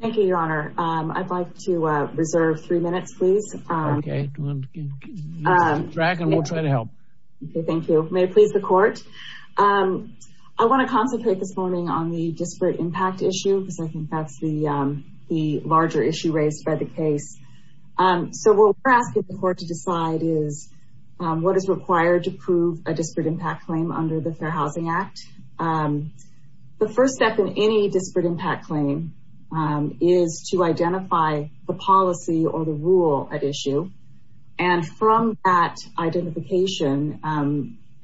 Thank you your honor. I'd like to reserve three minutes please. Okay, we'll try to help. Thank you. May it please the court. I want to concentrate this morning on the disparate impact issue because I think that's the the larger issue raised by the case. So what we're asking the court to decide is what is required to prove a disparate impact claim under the Fair Housing Act. The first step in any disparate impact claim is to identify the policy or the rule at issue and from that identification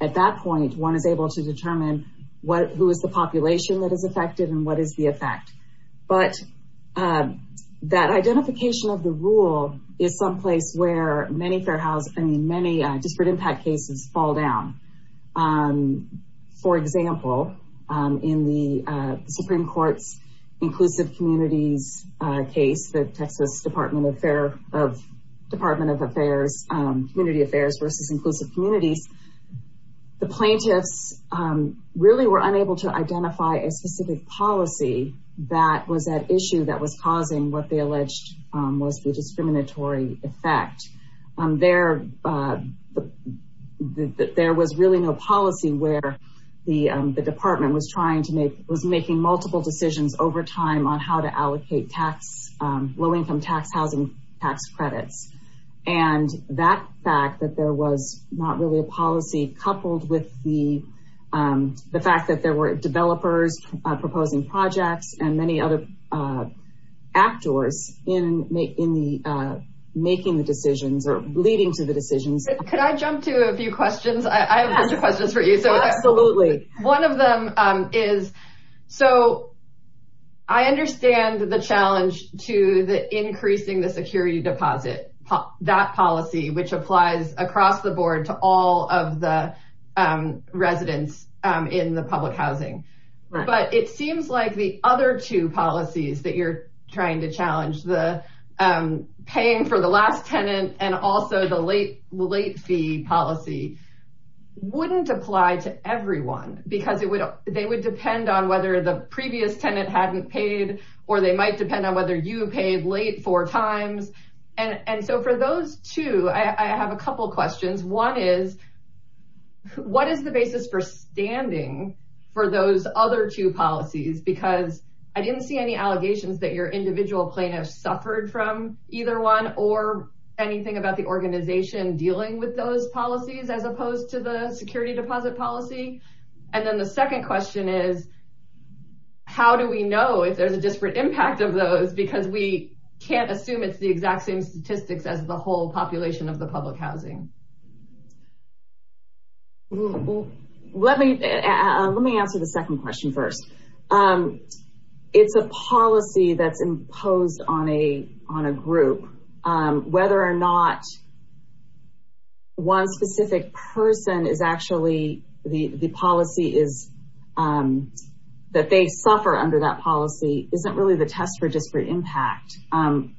at that point one is able to determine what who is the population that is affected and what is the effect. But that identification of the rule is someplace where many disparate impact cases fall down. For example, in the Supreme Court's inclusive communities case, the Texas Department of Affairs Community Affairs versus inclusive communities, the plaintiffs really were unable to identify a specific policy that was at issue that was causing what they alleged was the discriminatory effect. There was really no policy where the department was trying to make, was making multiple decisions over time on how to allocate tax, low-income tax housing tax credits and that fact that there was not really a policy coupled with the the fact that there were developers proposing projects and many other actors in making the decisions or leading to the decisions. Could I jump to a few questions? I have a bunch of questions for you. So absolutely. One of them is, so I understand the challenge to the increasing the security deposit, that policy which applies across the board to all of the residents in the public housing. But it seems like the other two policies that you're trying to challenge, the paying for the last tenant and also the late fee policy, wouldn't apply to everyone because they would depend on whether the previous tenant hadn't paid or they might depend on whether you paid late four times. And so for those two, I have a couple questions. One is, what is the basis for standing for those other two policies? Because I didn't see any allegations that your individual plaintiffs suffered from either one or anything about the organization dealing with those policies as opposed to the security deposit policy. And then the second question is, how do we know if there's a disparate impact of those? Because we can't assume it's the exact same statistics as the population of the public housing. Let me answer the second question first. It's a policy that's imposed on a group. Whether or not one specific person is actually, the policy is that they suffer under that policy isn't really tested for disparate impact.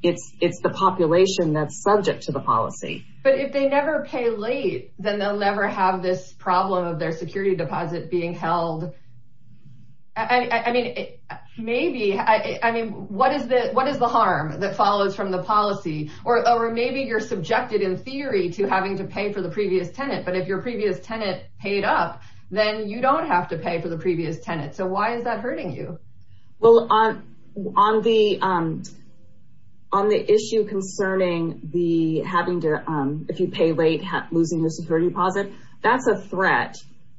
It's the population that's subject to the policy. But if they never pay late, then they'll never have this problem of their security deposit being held. What is the harm that follows from the policy? Or maybe you're subjected in theory to having to pay for the previous tenant, but if your previous tenant paid up, then you don't have to pay late. On the issue concerning the having to, if you pay late, losing your security deposit, that's a threat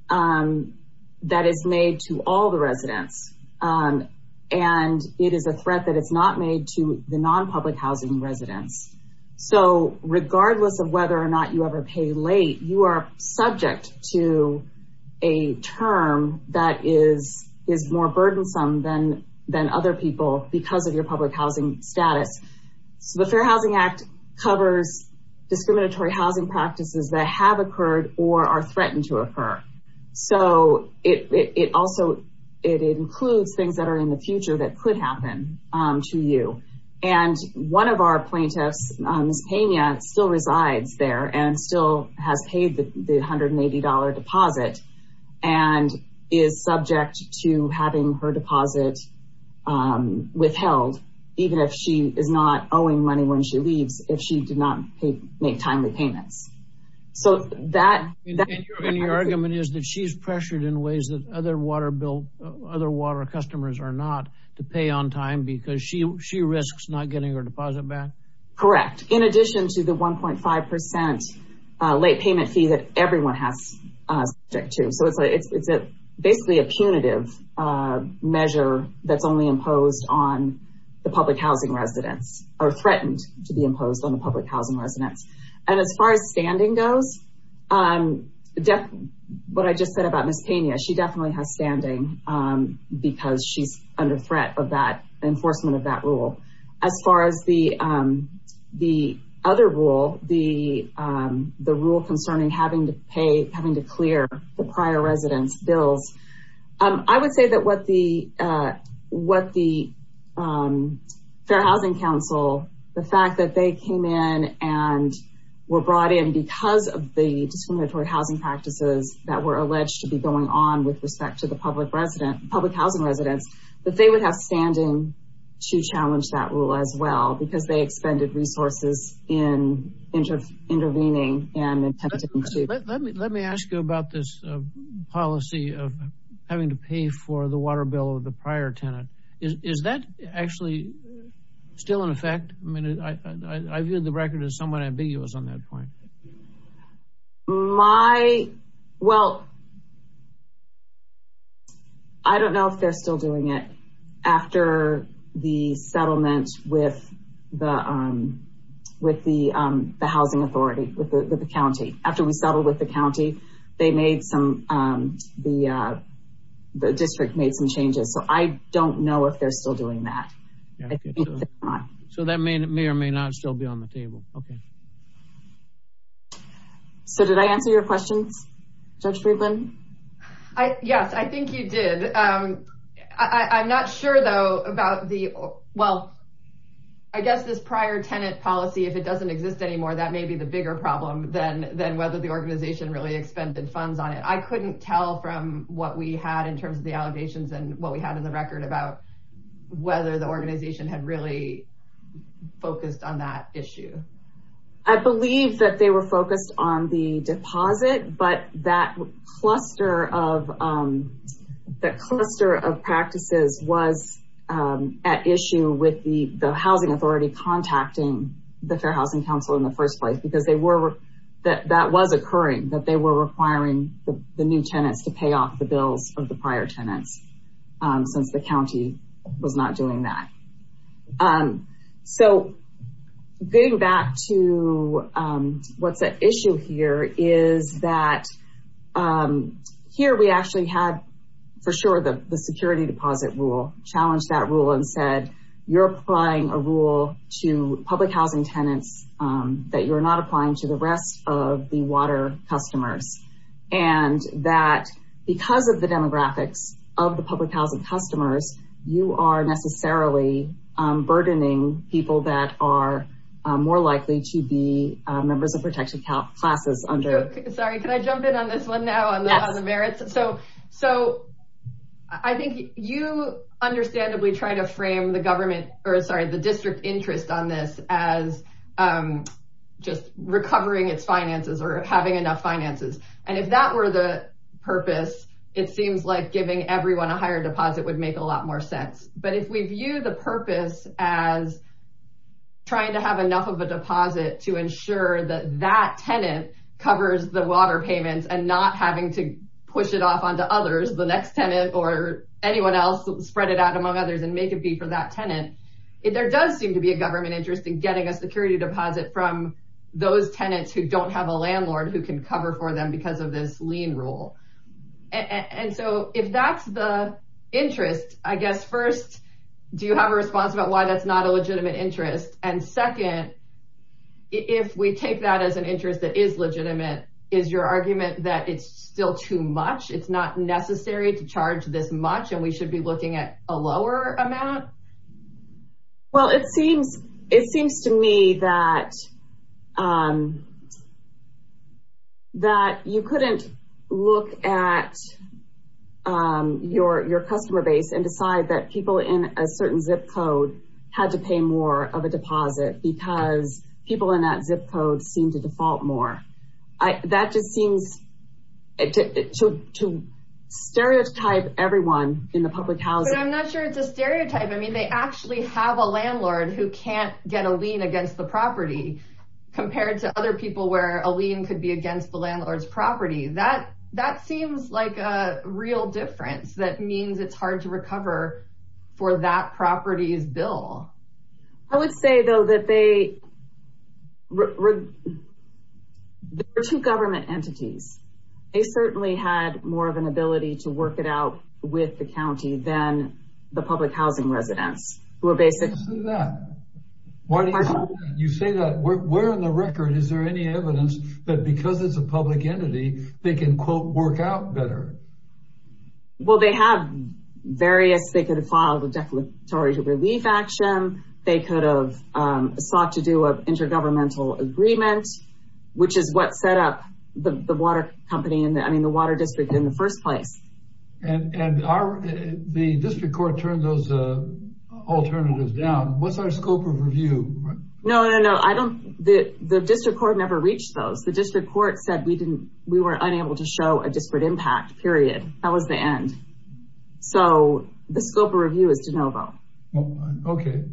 that is made to all the residents. And it is a threat that it's not made to the non-public housing residents. So regardless of whether or not you ever pay late, you are your public housing status. So the Fair Housing Act covers discriminatory housing practices that have occurred or are threatened to occur. So it also includes things that are in the future that could happen to you. And one of our plaintiffs, Ms. Pena, still resides there and still has paid the $180 deposit and is subject to having her deposit withheld, even if she is not owing money when she leaves, if she did not make timely payments. So that... And your argument is that she's pressured in ways that other water customers are not to pay on time because she risks not getting her deposit back? Correct. In addition to the 1.5% late payment fee that everyone has subject to. So it's basically a punitive measure that's only imposed on the public housing residents or threatened to be imposed on the public housing residents. And as far as standing goes, what I just said about Ms. Pena, she definitely has standing because she's under threat of that enforcement of that rule. As far as the other rule, the rule concerning having to pay, having to clear the prior residence bills, I would say that what the Fair Housing Council, the fact that they came in and were brought in because of the discriminatory housing practices that were alleged to be going on with respect to the public resident, public housing residents, that they would have standing to challenge that rule as well because they expended resources in intervening and attempting to... Let me ask you about this policy of having to pay for the water bill of the prior tenant. Is that actually still in effect? I mean, I viewed the record as somewhat ambiguous on that point. I don't know if they're still doing it after the settlement with the housing authority, with the county. After we settled with the county, the district made some changes, so I don't know if they're still doing that. So that may or may not still be on the table. Okay. So did I answer your questions, Judge Friedland? Yes, I think you did. I'm not sure though about the... Well, I guess this prior tenant policy, if it doesn't exist anymore, that may be the bigger problem than whether the organization really expended funds on it. I couldn't tell from what we had in terms of the allegations and what we had in the record about whether the focused on the deposit, but that cluster of practices was at issue with the housing authority contacting the Fair Housing Council in the first place because that was occurring, that they were requiring the new tenants to pay off the bills of the prior tenants since the county was not doing that. So getting back to what's at issue here is that here we actually had for sure the security deposit rule, challenged that rule and said, you're applying a rule to public housing tenants that you're not applying to the rest of the water customers. And that because of the burdening people that are more likely to be members of protection classes under... Sorry, can I jump in on this one now on the merits? So I think you understandably try to frame the district interest on this as just recovering its finances or having enough finances. And if that were the purpose, it seems like giving everyone a higher deposit would make a lot more sense. But if we view the purpose as trying to have enough of a deposit to ensure that that tenant covers the water payments and not having to push it off onto others, the next tenant or anyone else, spread it out among others and make it be for that tenant, there does seem to be a government interest in getting a security deposit from those tenants who don't have a First, do you have a response about why that's not a legitimate interest? And second, if we take that as an interest that is legitimate, is your argument that it's still too much? It's not necessary to charge this much and we should be looking at a lower amount? Well, it seems to me that you couldn't look at your customer base and decide that people in a certain zip code had to pay more of a deposit because people in that zip code seem to default more. That just seems to stereotype everyone in the public housing. But I'm not sure it's a stereotype. I mean, they actually have a to other people where a lien could be against the landlord's property. That seems like a real difference. That means it's hard to recover for that property's bill. I would say, though, that there are two government entities. They certainly had more of an ability to work it out with the county than the public housing residents. Why do you say that? Where in the record is there any evidence that because it's a public entity, they can, quote, work out better? Well, they have various. They could have filed a declaratory relief action. They could have sought to do an intergovernmental agreement, which is what set up the water district in the first place. And the district court turned those alternatives down. What's our scope of review? No, no, no. The district court never reached those. The district court said we were unable to show a disparate impact, period. That was the end. So the scope of review is de novo. Okay.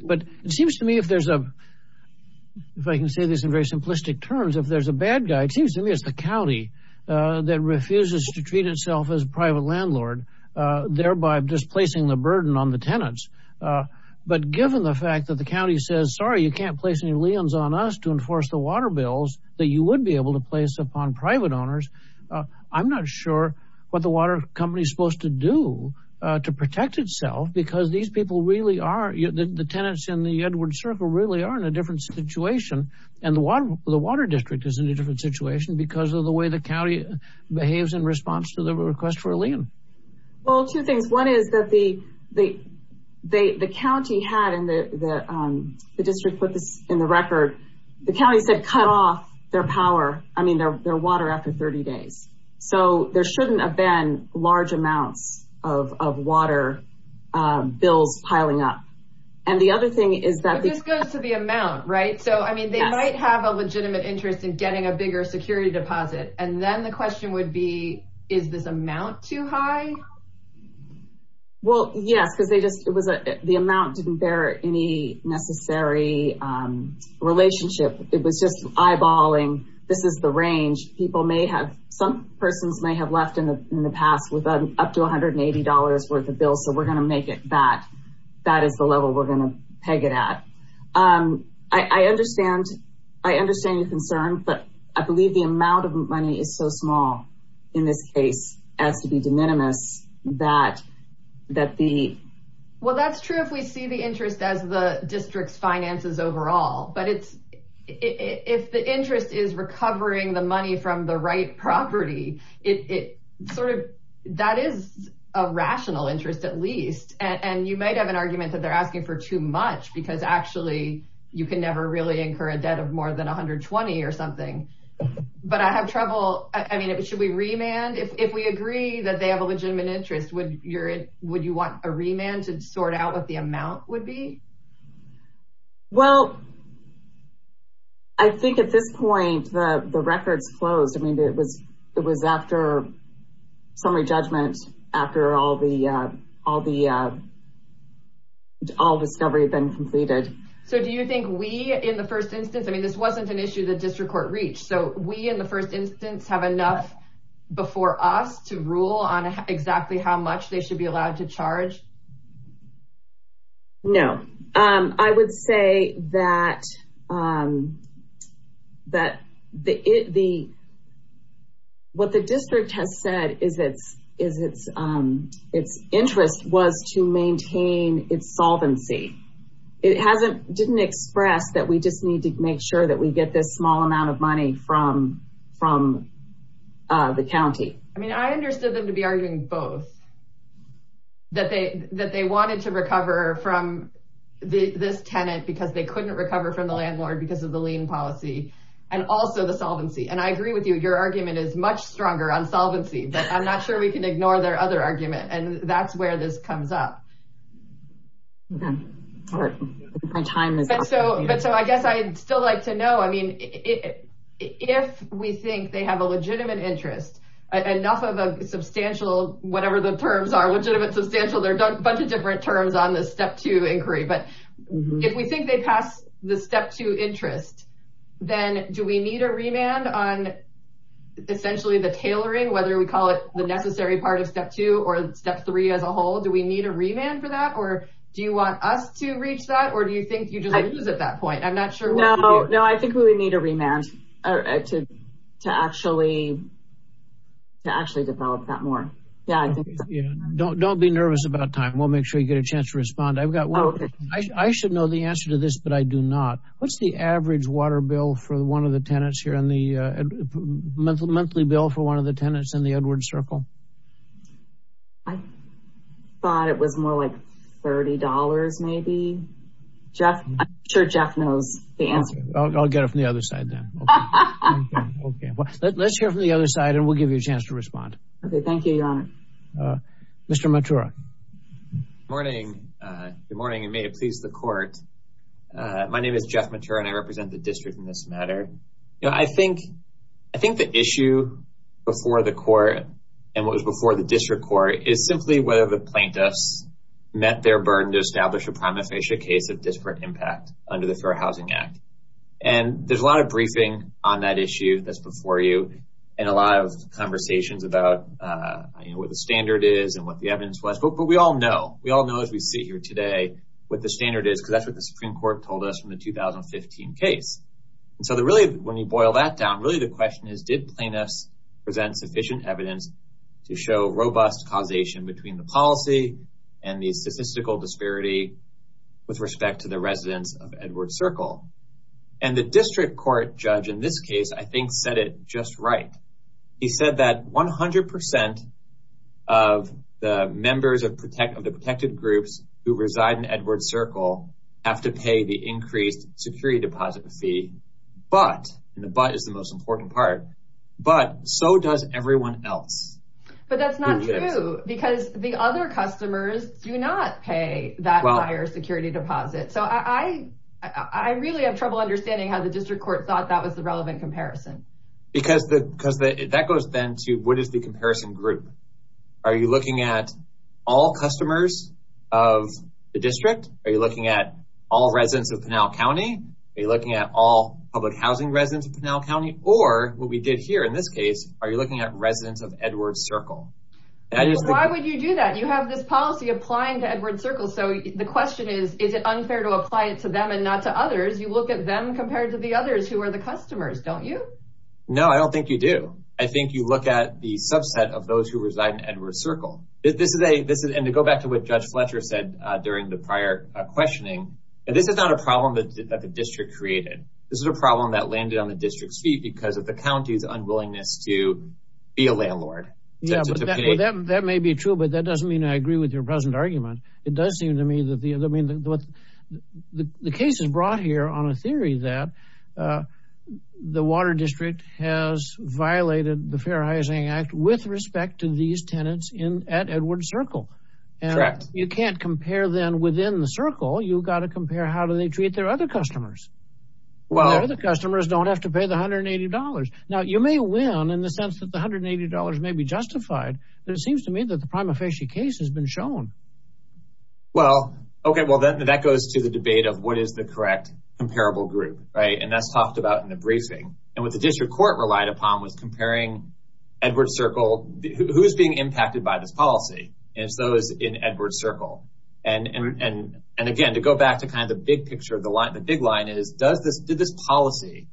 But it seems to me, if I can say this in very simplistic terms, if there's a bad guy, it seems to me it's the county that refuses to treat itself as a private landlord, thereby displacing the burden on the tenants. But given the fact that the county says, sorry, you can't place any liens on us to enforce the water bills that you would be able to place upon private owners, I'm not sure what the water company is supposed to do to protect itself, because these people really are, the tenants in the Edwards Circle really are in a different situation. And the water district is in a different situation because of the way the county behaves in response to the request for a lien. Well, two things. One is that the county had, and the district put this in the record, the county said cut off their power, I mean, their water after 30 days. So there shouldn't have been large amounts of water bills piling up. And the other thing is that- It just goes to the amount, right? So I mean, they might have a legitimate interest in getting a bigger security deposit. And then the question would be, is this amount too high? Well, yes, because the amount didn't bear any necessary relationship. It was just eyeballing, this is the range. Some persons may have left in the past with up to $180 worth of bills, so we're gonna make it that. That is the level we're gonna peg it at. I understand your concern, but I believe the amount of money is so small in this case as to be de minimis that the- Well, that's true if we see the interest as the district's finances overall. But if the interest is recovering the money from the right property, that is a rational interest at least. And you might have an argument that they're asking for too much because actually, you can never really incur a debt of more than 120 or something. But I have trouble, I mean, should we remand? If we agree that they have a legitimate interest, would you want a remand to sort out what the amount would be? Well, I think at this point, the record's closed. I mean, it was after summary judgment, after all the discovery had been completed. So do you think we, in the first instance, I mean, this wasn't an issue that district court reached. So we, in the first instance, have enough before us to rule on that. What the district has said is its interest was to maintain its solvency. It didn't express that we just need to make sure that we get this small amount of money from the county. I mean, I understood them to be arguing both, that they wanted to recover from this tenant because they couldn't recover from the landlord because of the lien policy, and also the solvency. And I agree with you, your argument is much stronger on solvency, but I'm not sure we can ignore their other argument. And that's where this comes up. But so I guess I'd still like to know, I mean, if we think they have a legitimate interest, enough of a substantial, whatever the terms are legitimate, substantial, there are a bunch of different terms on this step two inquiry. But if we think they pass the step two interest, then do we need a remand on essentially the tailoring, whether we call it the necessary part of step two or step three as a whole? Do we need a remand for that? Or do you want us to reach that? Or do you think you just lose at that point? I'm not sure. No, no, I think we need a remand to actually develop that more. Yeah, don't be nervous about time. We'll make sure you get a chance to respond. I've got one. I should know the answer to this, but I do not. What's the average water bill for one of the tenants here in the monthly bill for one of the tenants in the Edwards Circle? I thought it was more like $30, maybe. Jeff, I'm sure Jeff knows the answer. I'll get it from the other side then. Okay, well, let's hear from the other side, and we'll give you a chance to respond. Okay, thank you, your honor. Mr. Matura. Good morning, and may it please the court. My name is Jeff Matura, and I represent the district in this matter. I think the issue before the court and what was before the district court is simply whether the plaintiffs met their burden to establish a prima facie case of disparate impact under the Fair Housing Act. There's a lot of briefing on that issue that's before you, and a lot of conversations about what the standard is and what the evidence was. But we all know, we all know as we sit here today, what the standard is, because that's what the Supreme Court told us from the 2015 case. And so really, when you boil that down, really the question is, did plaintiffs present sufficient evidence to show robust causation between the policy and the statistical disparity with respect to the residents of Edwards Circle? And the district court judge in this case, I think, said it just right. He said that 100% of the members of the protected groups who reside in Edwards Circle have to pay the increased security deposit fee. But, and the but is the most important part, but so does everyone else. But that's not true, because the other customers do not pay that higher security deposit. So I really have trouble understanding how the district court thought that was the relevant comparison. Because that goes then to what is the comparison group? Are you looking at all customers of the district? Are you looking at all residents of Pinal County? Are you looking at all public housing residents of Pinal County? Or what we did here in this case, are you looking at residents of Edwards Circle? Why would you do that? You have this policy applying to Edwards Circle. So the question is, is it unfair to apply it to them and not to others? You look at them compared to the others who are the customers, don't you? No, I don't think you do. I think you look at the subset of those who reside in Edwards Circle. This is a this is and to go back to what Judge Fletcher said during the prior questioning. And this is not a problem that the district created. This is a problem that landed on the district's feet because of the county's unwillingness to be a landlord. Yeah, that may be true. But that doesn't mean I agree with your present argument. It does seem to me that the I mean, the case is brought here on a theory that the Water District has violated the Fair Housing Act with respect to these tenants in at Edwards Circle. And you can't compare them within the circle. You've got to compare how do they treat their other customers? Well, the customers don't have to pay the hundred and eighty dollars. Now, you may win in the sense that the hundred and eighty dollars may be justified. But it seems to me that the prima facie case has been shown. Well, OK, well, then that goes to the debate of what is the correct comparable group. Right. And that's talked about in the briefing. And what the district court relied upon was comparing Edwards Circle. Who's being impacted by this policy? And so is in Edwards Circle. And and again, to go back to kind of the big picture of the line, the big line is, does this policy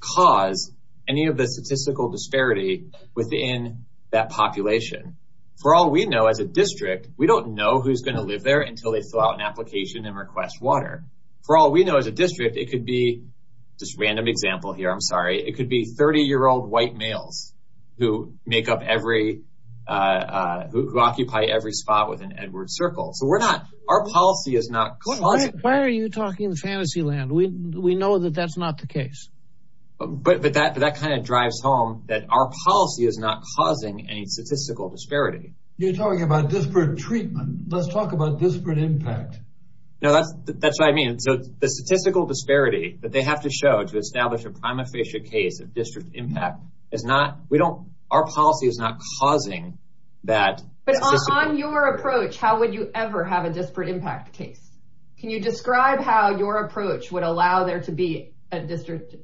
cause any of the statistical disparity within that population? For all we know as a district, we don't know who's going to live there until they fill out an application and request water. For all we know as a district, it could be just random example here. I'm sorry. It could be 30 year old white males who make up every who occupy every spot within Edwards Circle. So we're not our policy is not. Why are you talking the fantasy land? We we know that that's not the case. But that that kind of drives home that our policy is not causing any statistical disparity. You're talking about disparate treatment. Let's talk about disparate impact. No, that's that's what I mean. So the statistical disparity that they have to show to establish a prima facie case of district impact is not we don't our policy is not causing that. But on your approach, how would you ever have a disparate impact case? Can you describe how your approach would allow there to be a district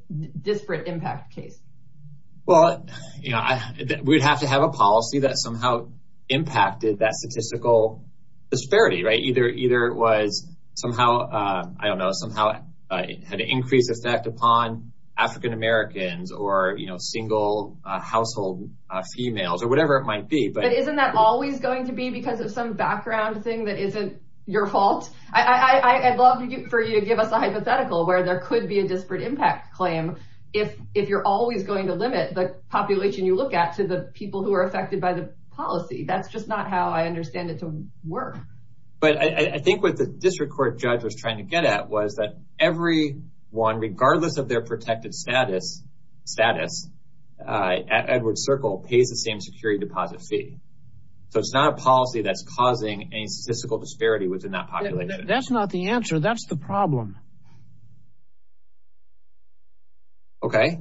disparate impact case? Well, you know, we'd have to have a policy that somehow impacted that statistical disparity, right? Either either was somehow, I don't know, somehow had an increased effect upon African Americans or, you know, single household females or whatever it might be. But isn't that always going to be because of some background thing that isn't your fault? I'd love for you to give us a hypothetical where there could be a disparate impact claim if if you're always going to limit the population you look at to the people who are affected by the policy. That's just not how I understand it to work. But I think what the district court judge was trying to get at was that every one, regardless of their protected status, status, Edward Circle pays the same security deposit fee. So it's not a policy that's causing a statistical disparity within that population. That's not the answer. That's the problem. OK,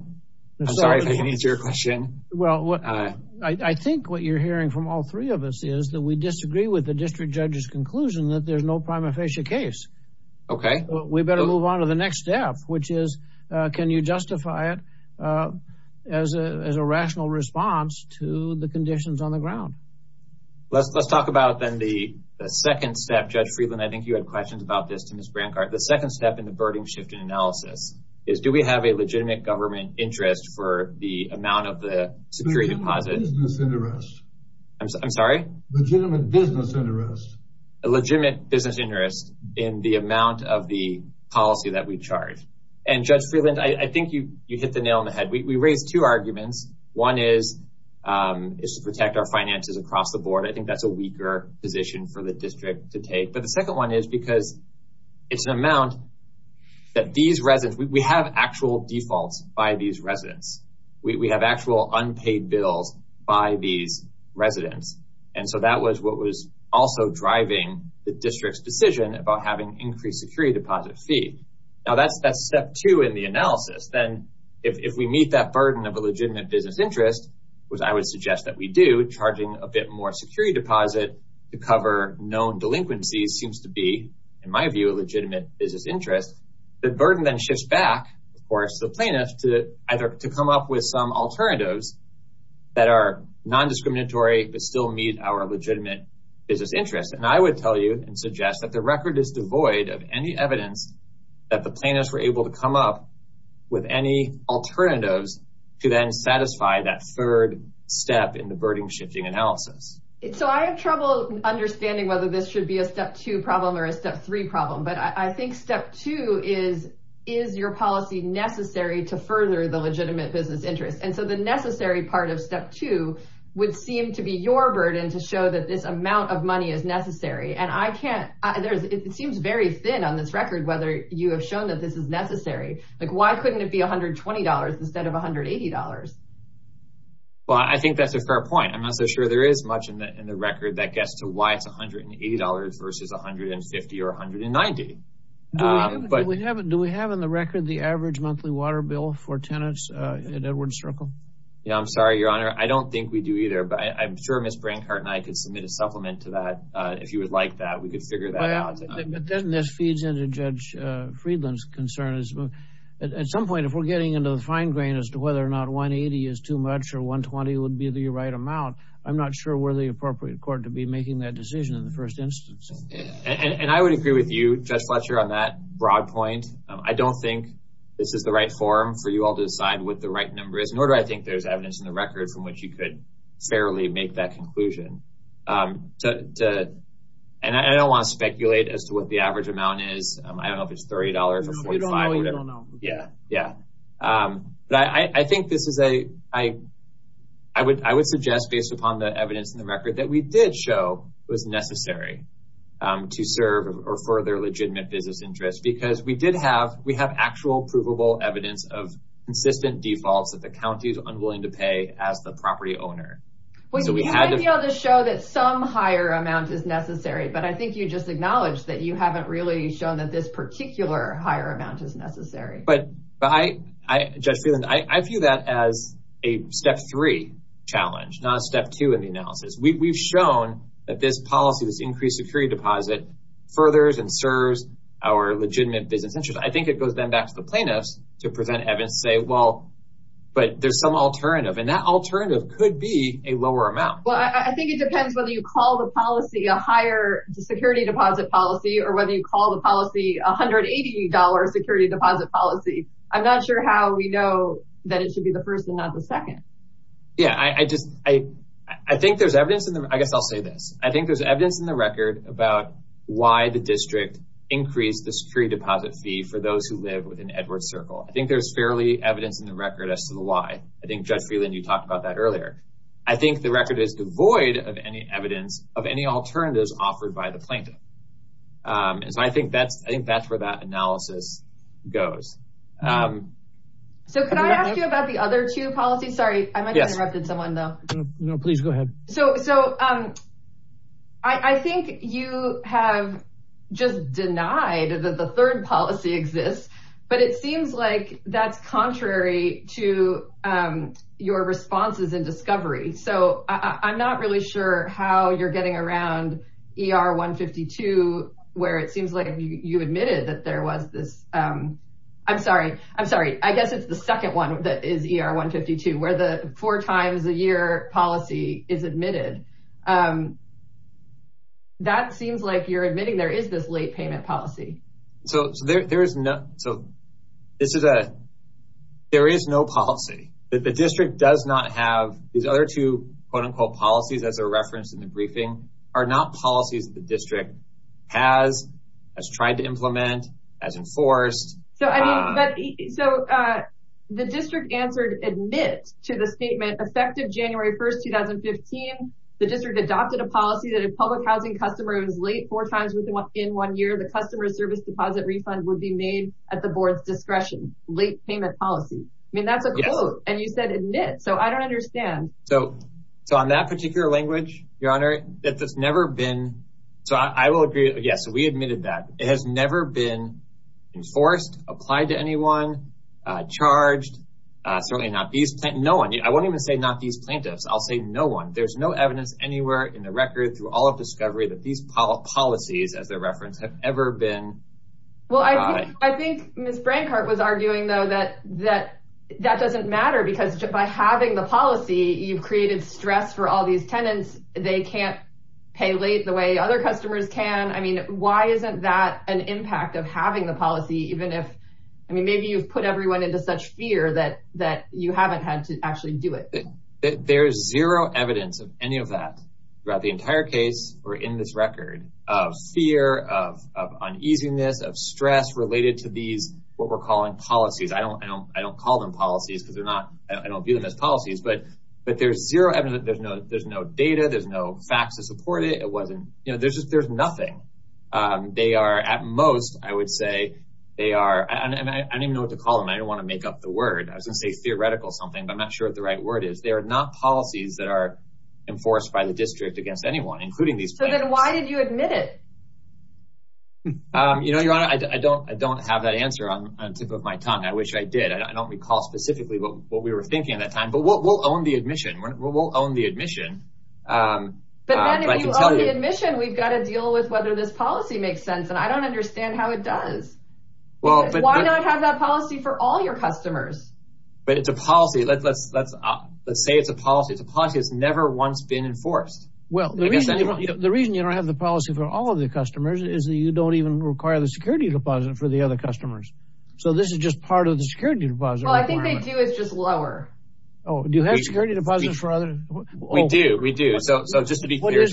I'm sorry if I didn't answer your question. Well, I think what you're hearing from all three of us is that we disagree with the district judge's conclusion that there's no prima facie case. OK, we better move on to the next step, which is, can you justify it as a rational response to the conditions on the ground? Let's talk about then the second step. Judge Freeland, I think you had questions about this to Ms. Brancard. The second step in the burden shift in analysis is, do we have a legitimate government interest for the amount of the security deposit? I'm sorry? A legitimate business interest in the amount of the policy that we charge. And Judge Freeland, I think you hit the nail on the head. We raised two arguments. One is to protect our finances across the board. I think that's a weaker position for the district to take. But the second one is because it's an amount that these residents—we have actual defaults by these residents. We have actual unpaid bills by these residents. And so that was what was also driving the district's decision about having increased security deposit fee. Now, that's step two in the analysis. Then if we meet that burden of a legitimate business interest, which I would suggest that we do—charging a bit more security deposit to cover known delinquencies seems to be, in my view, a legitimate business interest—the burden then shifts back, of course, to the plaintiffs to either to come up with some alternatives that are non-discriminatory but still meet our legitimate business interest. And I would tell you and suggest that the record is devoid of any evidence that the plaintiffs were able to come up with any alternatives to then satisfy that third step in the burden shifting analysis. So I have trouble understanding whether this should be a step two problem or a step three problem. But I think step two is, is your policy necessary to further the legitimate business interest? And so the necessary part of step two would seem to be your burden to show that this amount of money is necessary. And I can't—it seems very thin on this record whether you have shown that this is necessary. Like, why couldn't it be $120 instead of $180? Well, I think that's a fair point. I'm not so sure there is much in the record that gets to why it's $180 versus $150 or $190. Do we have in the record the average monthly water bill for tenants at Edwards Circle? Yeah, I'm sorry, Your Honor. I don't think we do either. But I'm sure Ms. Brancart and I could submit a supplement to that if you would like that. We could figure that out. But doesn't this feed into Judge Friedland's concern? At some point, if we're getting into the fine grain as to whether or not $180 is too much or $120 would be the right amount, I'm not sure we're the appropriate court to be making that decision in the first instance. And I would agree with you, Judge Fletcher, on that broad point. I don't think this is the right forum for you all to decide what the right number is, nor do I think there's evidence in the record from which you could fairly make that conclusion. And I don't want to speculate as to what the right number is. But I would suggest, based upon the evidence in the record, that we did show it was necessary to serve or further legitimate business interests, because we have actual provable evidence of consistent defaults that the county is unwilling to pay as the property owner. We had to be able to show that some higher amount is necessary, but I think you just acknowledged that you haven't really shown that this particular higher amount is necessary. But, Judge Freeland, I view that as a step three challenge, not a step two in the analysis. We've shown that this policy, this increased security deposit, furthers and serves our legitimate business interests. I think it goes then back to the plaintiffs to present evidence and say, well, but there's some alternative, and that alternative could be a lower amount. Well, I think it depends whether you call the policy a higher security deposit policy or whether you call the policy $180 security deposit policy. I'm not sure how we know that it should be the first and not the second. Yeah, I just, I think there's evidence in the, I guess I'll say this. I think there's evidence in the record about why the district increased the security deposit fee for those who live within Edwards Circle. I think there's fairly evidence in the record as to the why. I think, Judge Freeland, you talked about that earlier. I think the record is devoid of evidence of any alternatives offered by the plaintiff. I think that's where that analysis goes. So, can I ask you about the other two policies? Sorry, I might have interrupted someone, though. No, please go ahead. So, I think you have just denied that the third policy exists, but it seems like that's contrary to your responses in discovery. So, I'm not really sure how you're getting around ER-152, where it seems like you admitted that there was this, I'm sorry, I'm sorry, I guess it's the second one that is ER-152, where the four times a year policy is admitted. That seems like you're admitting there is this late payment policy. So, there is no policy. The district does not have these other two, quote-unquote, policies, as are referenced in the briefing, are not policies the district has tried to implement, has enforced. So, the district answered admit to the statement effective January 1st, 2015. The district adopted a policy that a public housing customer was late four times within one year, the customer service deposit refund would be made at the board's discretion, late payment policy. I mean, that's a quote, and you said admit. So, I don't understand. So, on that particular language, Your Honor, it's never been, so I will agree, yes, we admitted that. It has never been enforced, applied to anyone, charged, certainly not these, no one, I won't even say not these plaintiffs, I'll say no one. There's no evidence anywhere in the record through all of discovery that these policies, as they're referenced, have ever been applied. Well, I think Ms. Brancart was arguing, though, that that doesn't matter because by having the policy, you've created stress for all these tenants. They can't pay late the way other customers can. I mean, why isn't that an impact of having the policy, even if, I mean, maybe you've put everyone into such fear that you haven't had to actually do it. There's zero evidence of any of that throughout the entire case or in this record of fear, of uneasiness, of stress related to these, what we're calling policies. I don't call them policies because they're not, I don't view them as policies, but there's zero evidence. There's no data. There's no facts to support it. It wasn't, you know, there's nothing. They are, at most, I would say, they are, I don't even know what to call them. I don't want to make up the word. I was going to say theoretical something, but I'm not sure what the right word is. They are not policies that are against anyone, including these tenants. So then why did you admit it? You know, Your Honor, I don't have that answer on the tip of my tongue. I wish I did. I don't recall specifically what we were thinking at that time, but we'll own the admission. We'll own the admission. But then if you own the admission, we've got to deal with whether this policy makes sense, and I don't understand how it does. Why not have that policy for all your customers? But it's a policy. Let's say it's a policy. It's a policy that's never once been enforced. Well, the reason you don't have the policy for all of the customers is that you don't even require the security deposit for the other customers. So this is just part of the security deposit. Well, I think they do. It's just lower. Oh, do you have security deposits for others? We do. We do. So just to be clear,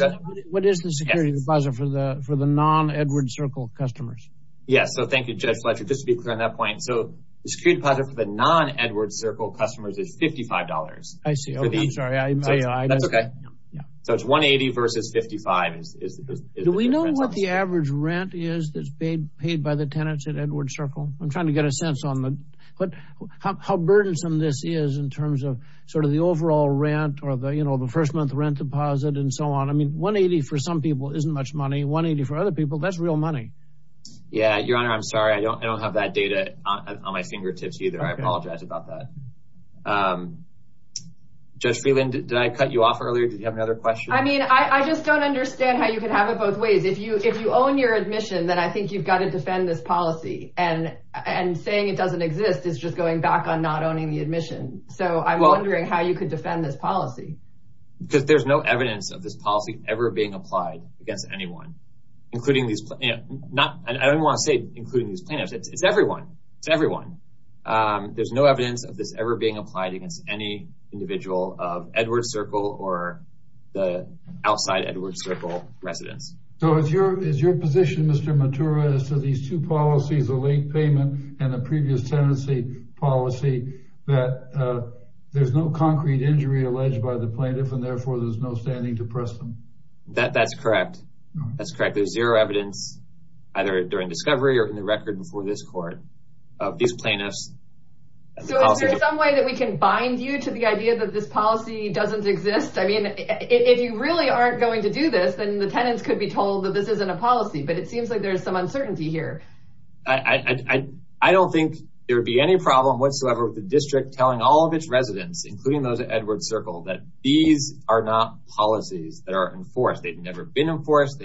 what is the security deposit for the non-Edward Circle customers? Yes. So thank you, Judge Fletcher. Just to be clear on that point. So the security deposit for the non-Edward Circle customers is $55. I see. Oh, I'm sorry. That's OK. So it's $180 versus $55. Do we know what the average rent is that's paid by the tenants at Edward Circle? I'm trying to get a sense on how burdensome this is in terms of sort of the overall rent or the first month rent deposit and so on. I mean, $180 for some people isn't much money. $180 for other people, that's real money. Yeah, Your Honor, I'm sorry. I don't know. Did I cut you off earlier? Did you have another question? I mean, I just don't understand how you can have it both ways. If you own your admission, then I think you've got to defend this policy. And saying it doesn't exist is just going back on not owning the admission. So I'm wondering how you could defend this policy. Because there's no evidence of this policy ever being applied against anyone, including these. I don't want to say including these plaintiffs. It's everyone. It's everyone. There's no evidence of this ever being applied against any individual of Edward Circle or the outside Edward Circle residents. So is your position, Mr. Matura, as to these two policies, the late payment and the previous tenancy policy, that there's no concrete injury alleged by the plaintiff and therefore there's no standing to press them? That's correct. That's correct. There's zero evidence, either during discovery or in the record before this court, of these plaintiffs. So is there some way that we can bind you to the idea that this policy doesn't exist? I mean, if you really aren't going to do this, then the tenants could be told that this isn't a policy. But it seems like there's some uncertainty here. I don't think there would be any problem whatsoever with the district telling all of its residents, including those at Edward Circle, that these are not policies that are enforced. They've never been enforced.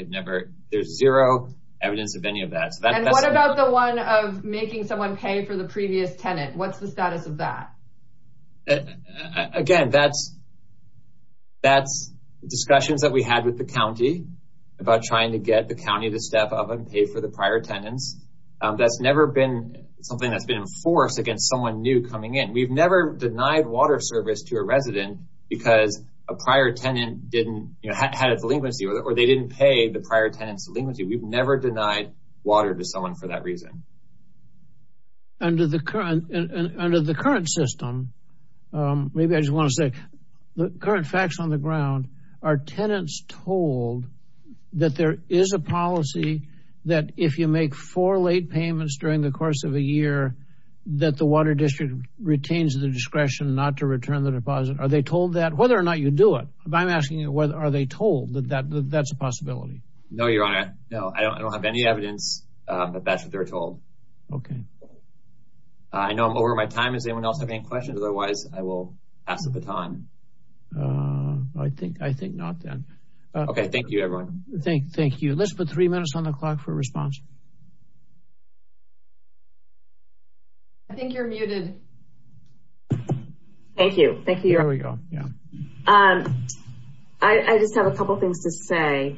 There's zero evidence of any of that. And what about the of making someone pay for the previous tenant? What's the status of that? Again, that's discussions that we had with the county about trying to get the county to step up and pay for the prior tenants. That's never been something that's been enforced against someone new coming in. We've never denied water service to a resident because a prior tenant had a delinquency or they didn't pay the prior tenant's delinquency. We've never denied water to someone for that reason. Under the current system, maybe I just want to say, the current facts on the ground, are tenants told that there is a policy that if you make four late payments during the course of a year, that the water district retains the discretion not to return the deposit? Are they told that? Whether or not you do it, I'm asking you, are they told that that's a possibility? No, your honor. No, I don't have any evidence, but that's what they're told. I know I'm over my time. Does anyone else have any questions? Otherwise, I will pass the baton. I think not then. Okay, thank you, everyone. Thank you. Let's put three minutes on the clock for response. I think you're muted. Thank you. Thank you. There we go. Yeah. I just have a couple things to say.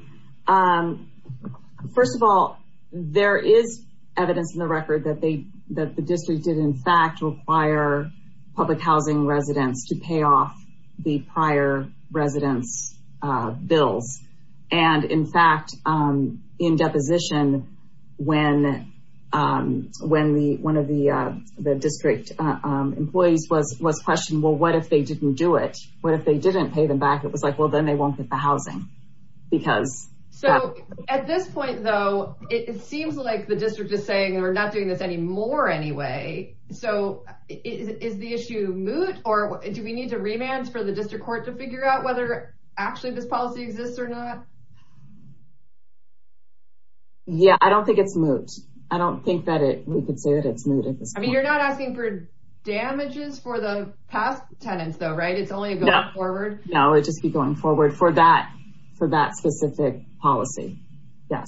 First of all, there is evidence in the record that the district did, in fact, require public housing residents to pay off the prior residents' bills. And in fact, in deposition, when one of the district employees was questioned, well, what if they didn't do it? What if they didn't pay them back? It was like, well, then they won't get the housing. So at this point, though, it seems like the district is saying we're not doing this anymore anyway. So is the issue moot? Or do we need to remand for the district court to figure out whether actually this policy exists or not? Yeah, I don't think it's moot. I don't think that we could say that it's moot at this point. You're not asking for damages for the past tenants, though, right? It's only going forward? No, it would just be going forward for that specific policy. Yes.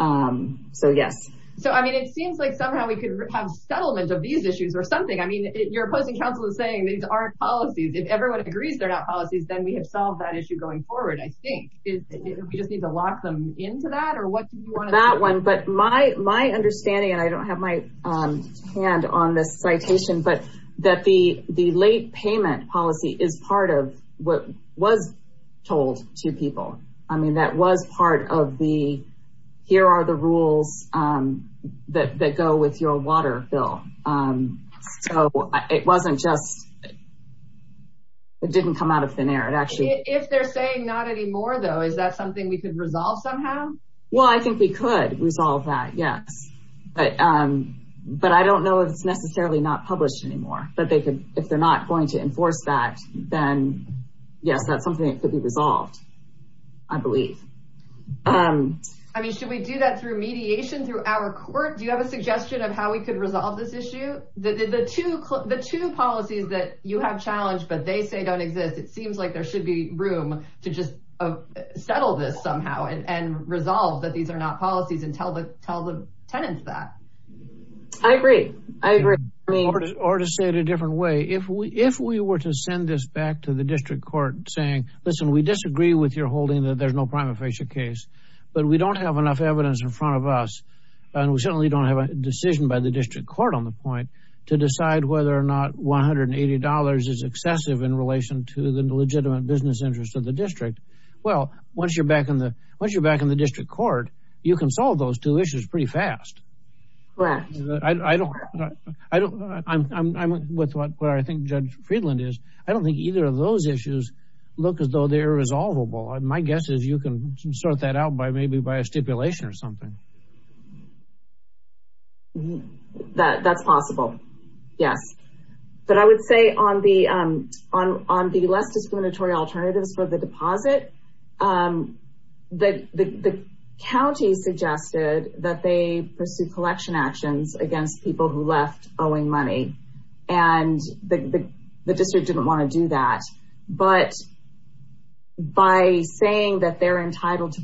So, yes. So, I mean, it seems like somehow we could have settlement of these issues or something. I mean, your opposing counsel is saying these aren't policies. If everyone agrees they're not policies, then we have solved that issue going forward, I think. We just need to lock them into that? That one. But my understanding, and I don't have my hand on this citation, but that the late payment policy is part of what was told to people. I mean, that was part of the, here are the rules that go with your water bill. So it wasn't just, it didn't come out of thin air. If they're saying not anymore, though, is that something we could resolve somehow? Well, I think we could resolve that, yes. But I don't know if it's necessarily not published anymore. But if they're not going to enforce that, then yes, that's something that could be resolved, I believe. I mean, should we do that through mediation, through our court? Do you have a suggestion of how we could resolve this issue? The two policies that you have challenged, but they say don't exist, it seems like there should be room to just settle this somehow and resolve that these are not policies and tell the tenants that. I agree. I agree. Or to say it a different way, if we were to send this back to the district court saying, listen, we disagree with your holding that there's no prima facie case, but we don't have enough evidence in front of us. And we certainly don't have a decision by the district court on the point to decide whether or not $180 is excessive in relation to the legitimate business interest of the district. Well, once you're back in the district court, you can solve those two issues pretty fast. Correct. I'm with what I think Judge Friedland is. I don't think either of those issues look as though they're resolvable. My guess is you can sort that out by maybe by a stipulation or something. That's possible. Yes. But I would say on the less discriminatory alternatives for the deposit, the county suggested that they pursue collection actions against people who left owing money. And the district didn't want to do that. But by saying that they're entitled to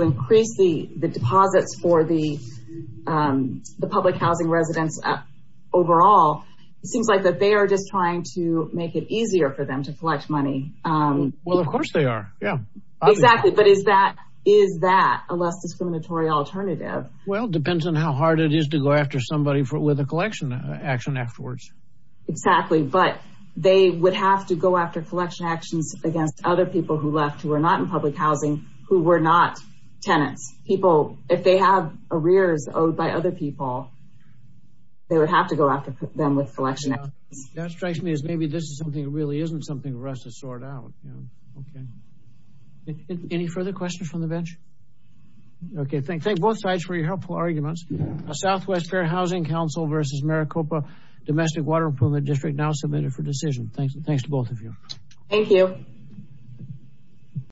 increase the deposits for the public housing residents overall, it seems like that they are just trying to make it easier for them to collect money. Well, of course they are. Yeah, exactly. But is that a less discriminatory alternative? Well, it depends on how hard it is to go after somebody with a collection action afterwards. Exactly. But they would have to go after collection actions against other people who left, who were not in public housing, who were not tenants. People, if they have arrears owed by other people, they would have to go after them with collection actions. That strikes me as maybe this is something that really isn't something for us to sort out. Okay. Any further questions from the bench? Okay. Thank both sides for your helpful arguments. Southwest Fair Housing Council versus Maricopa Domestic Water Improvement District now submitted for decision. Thanks to both of you. Thank you.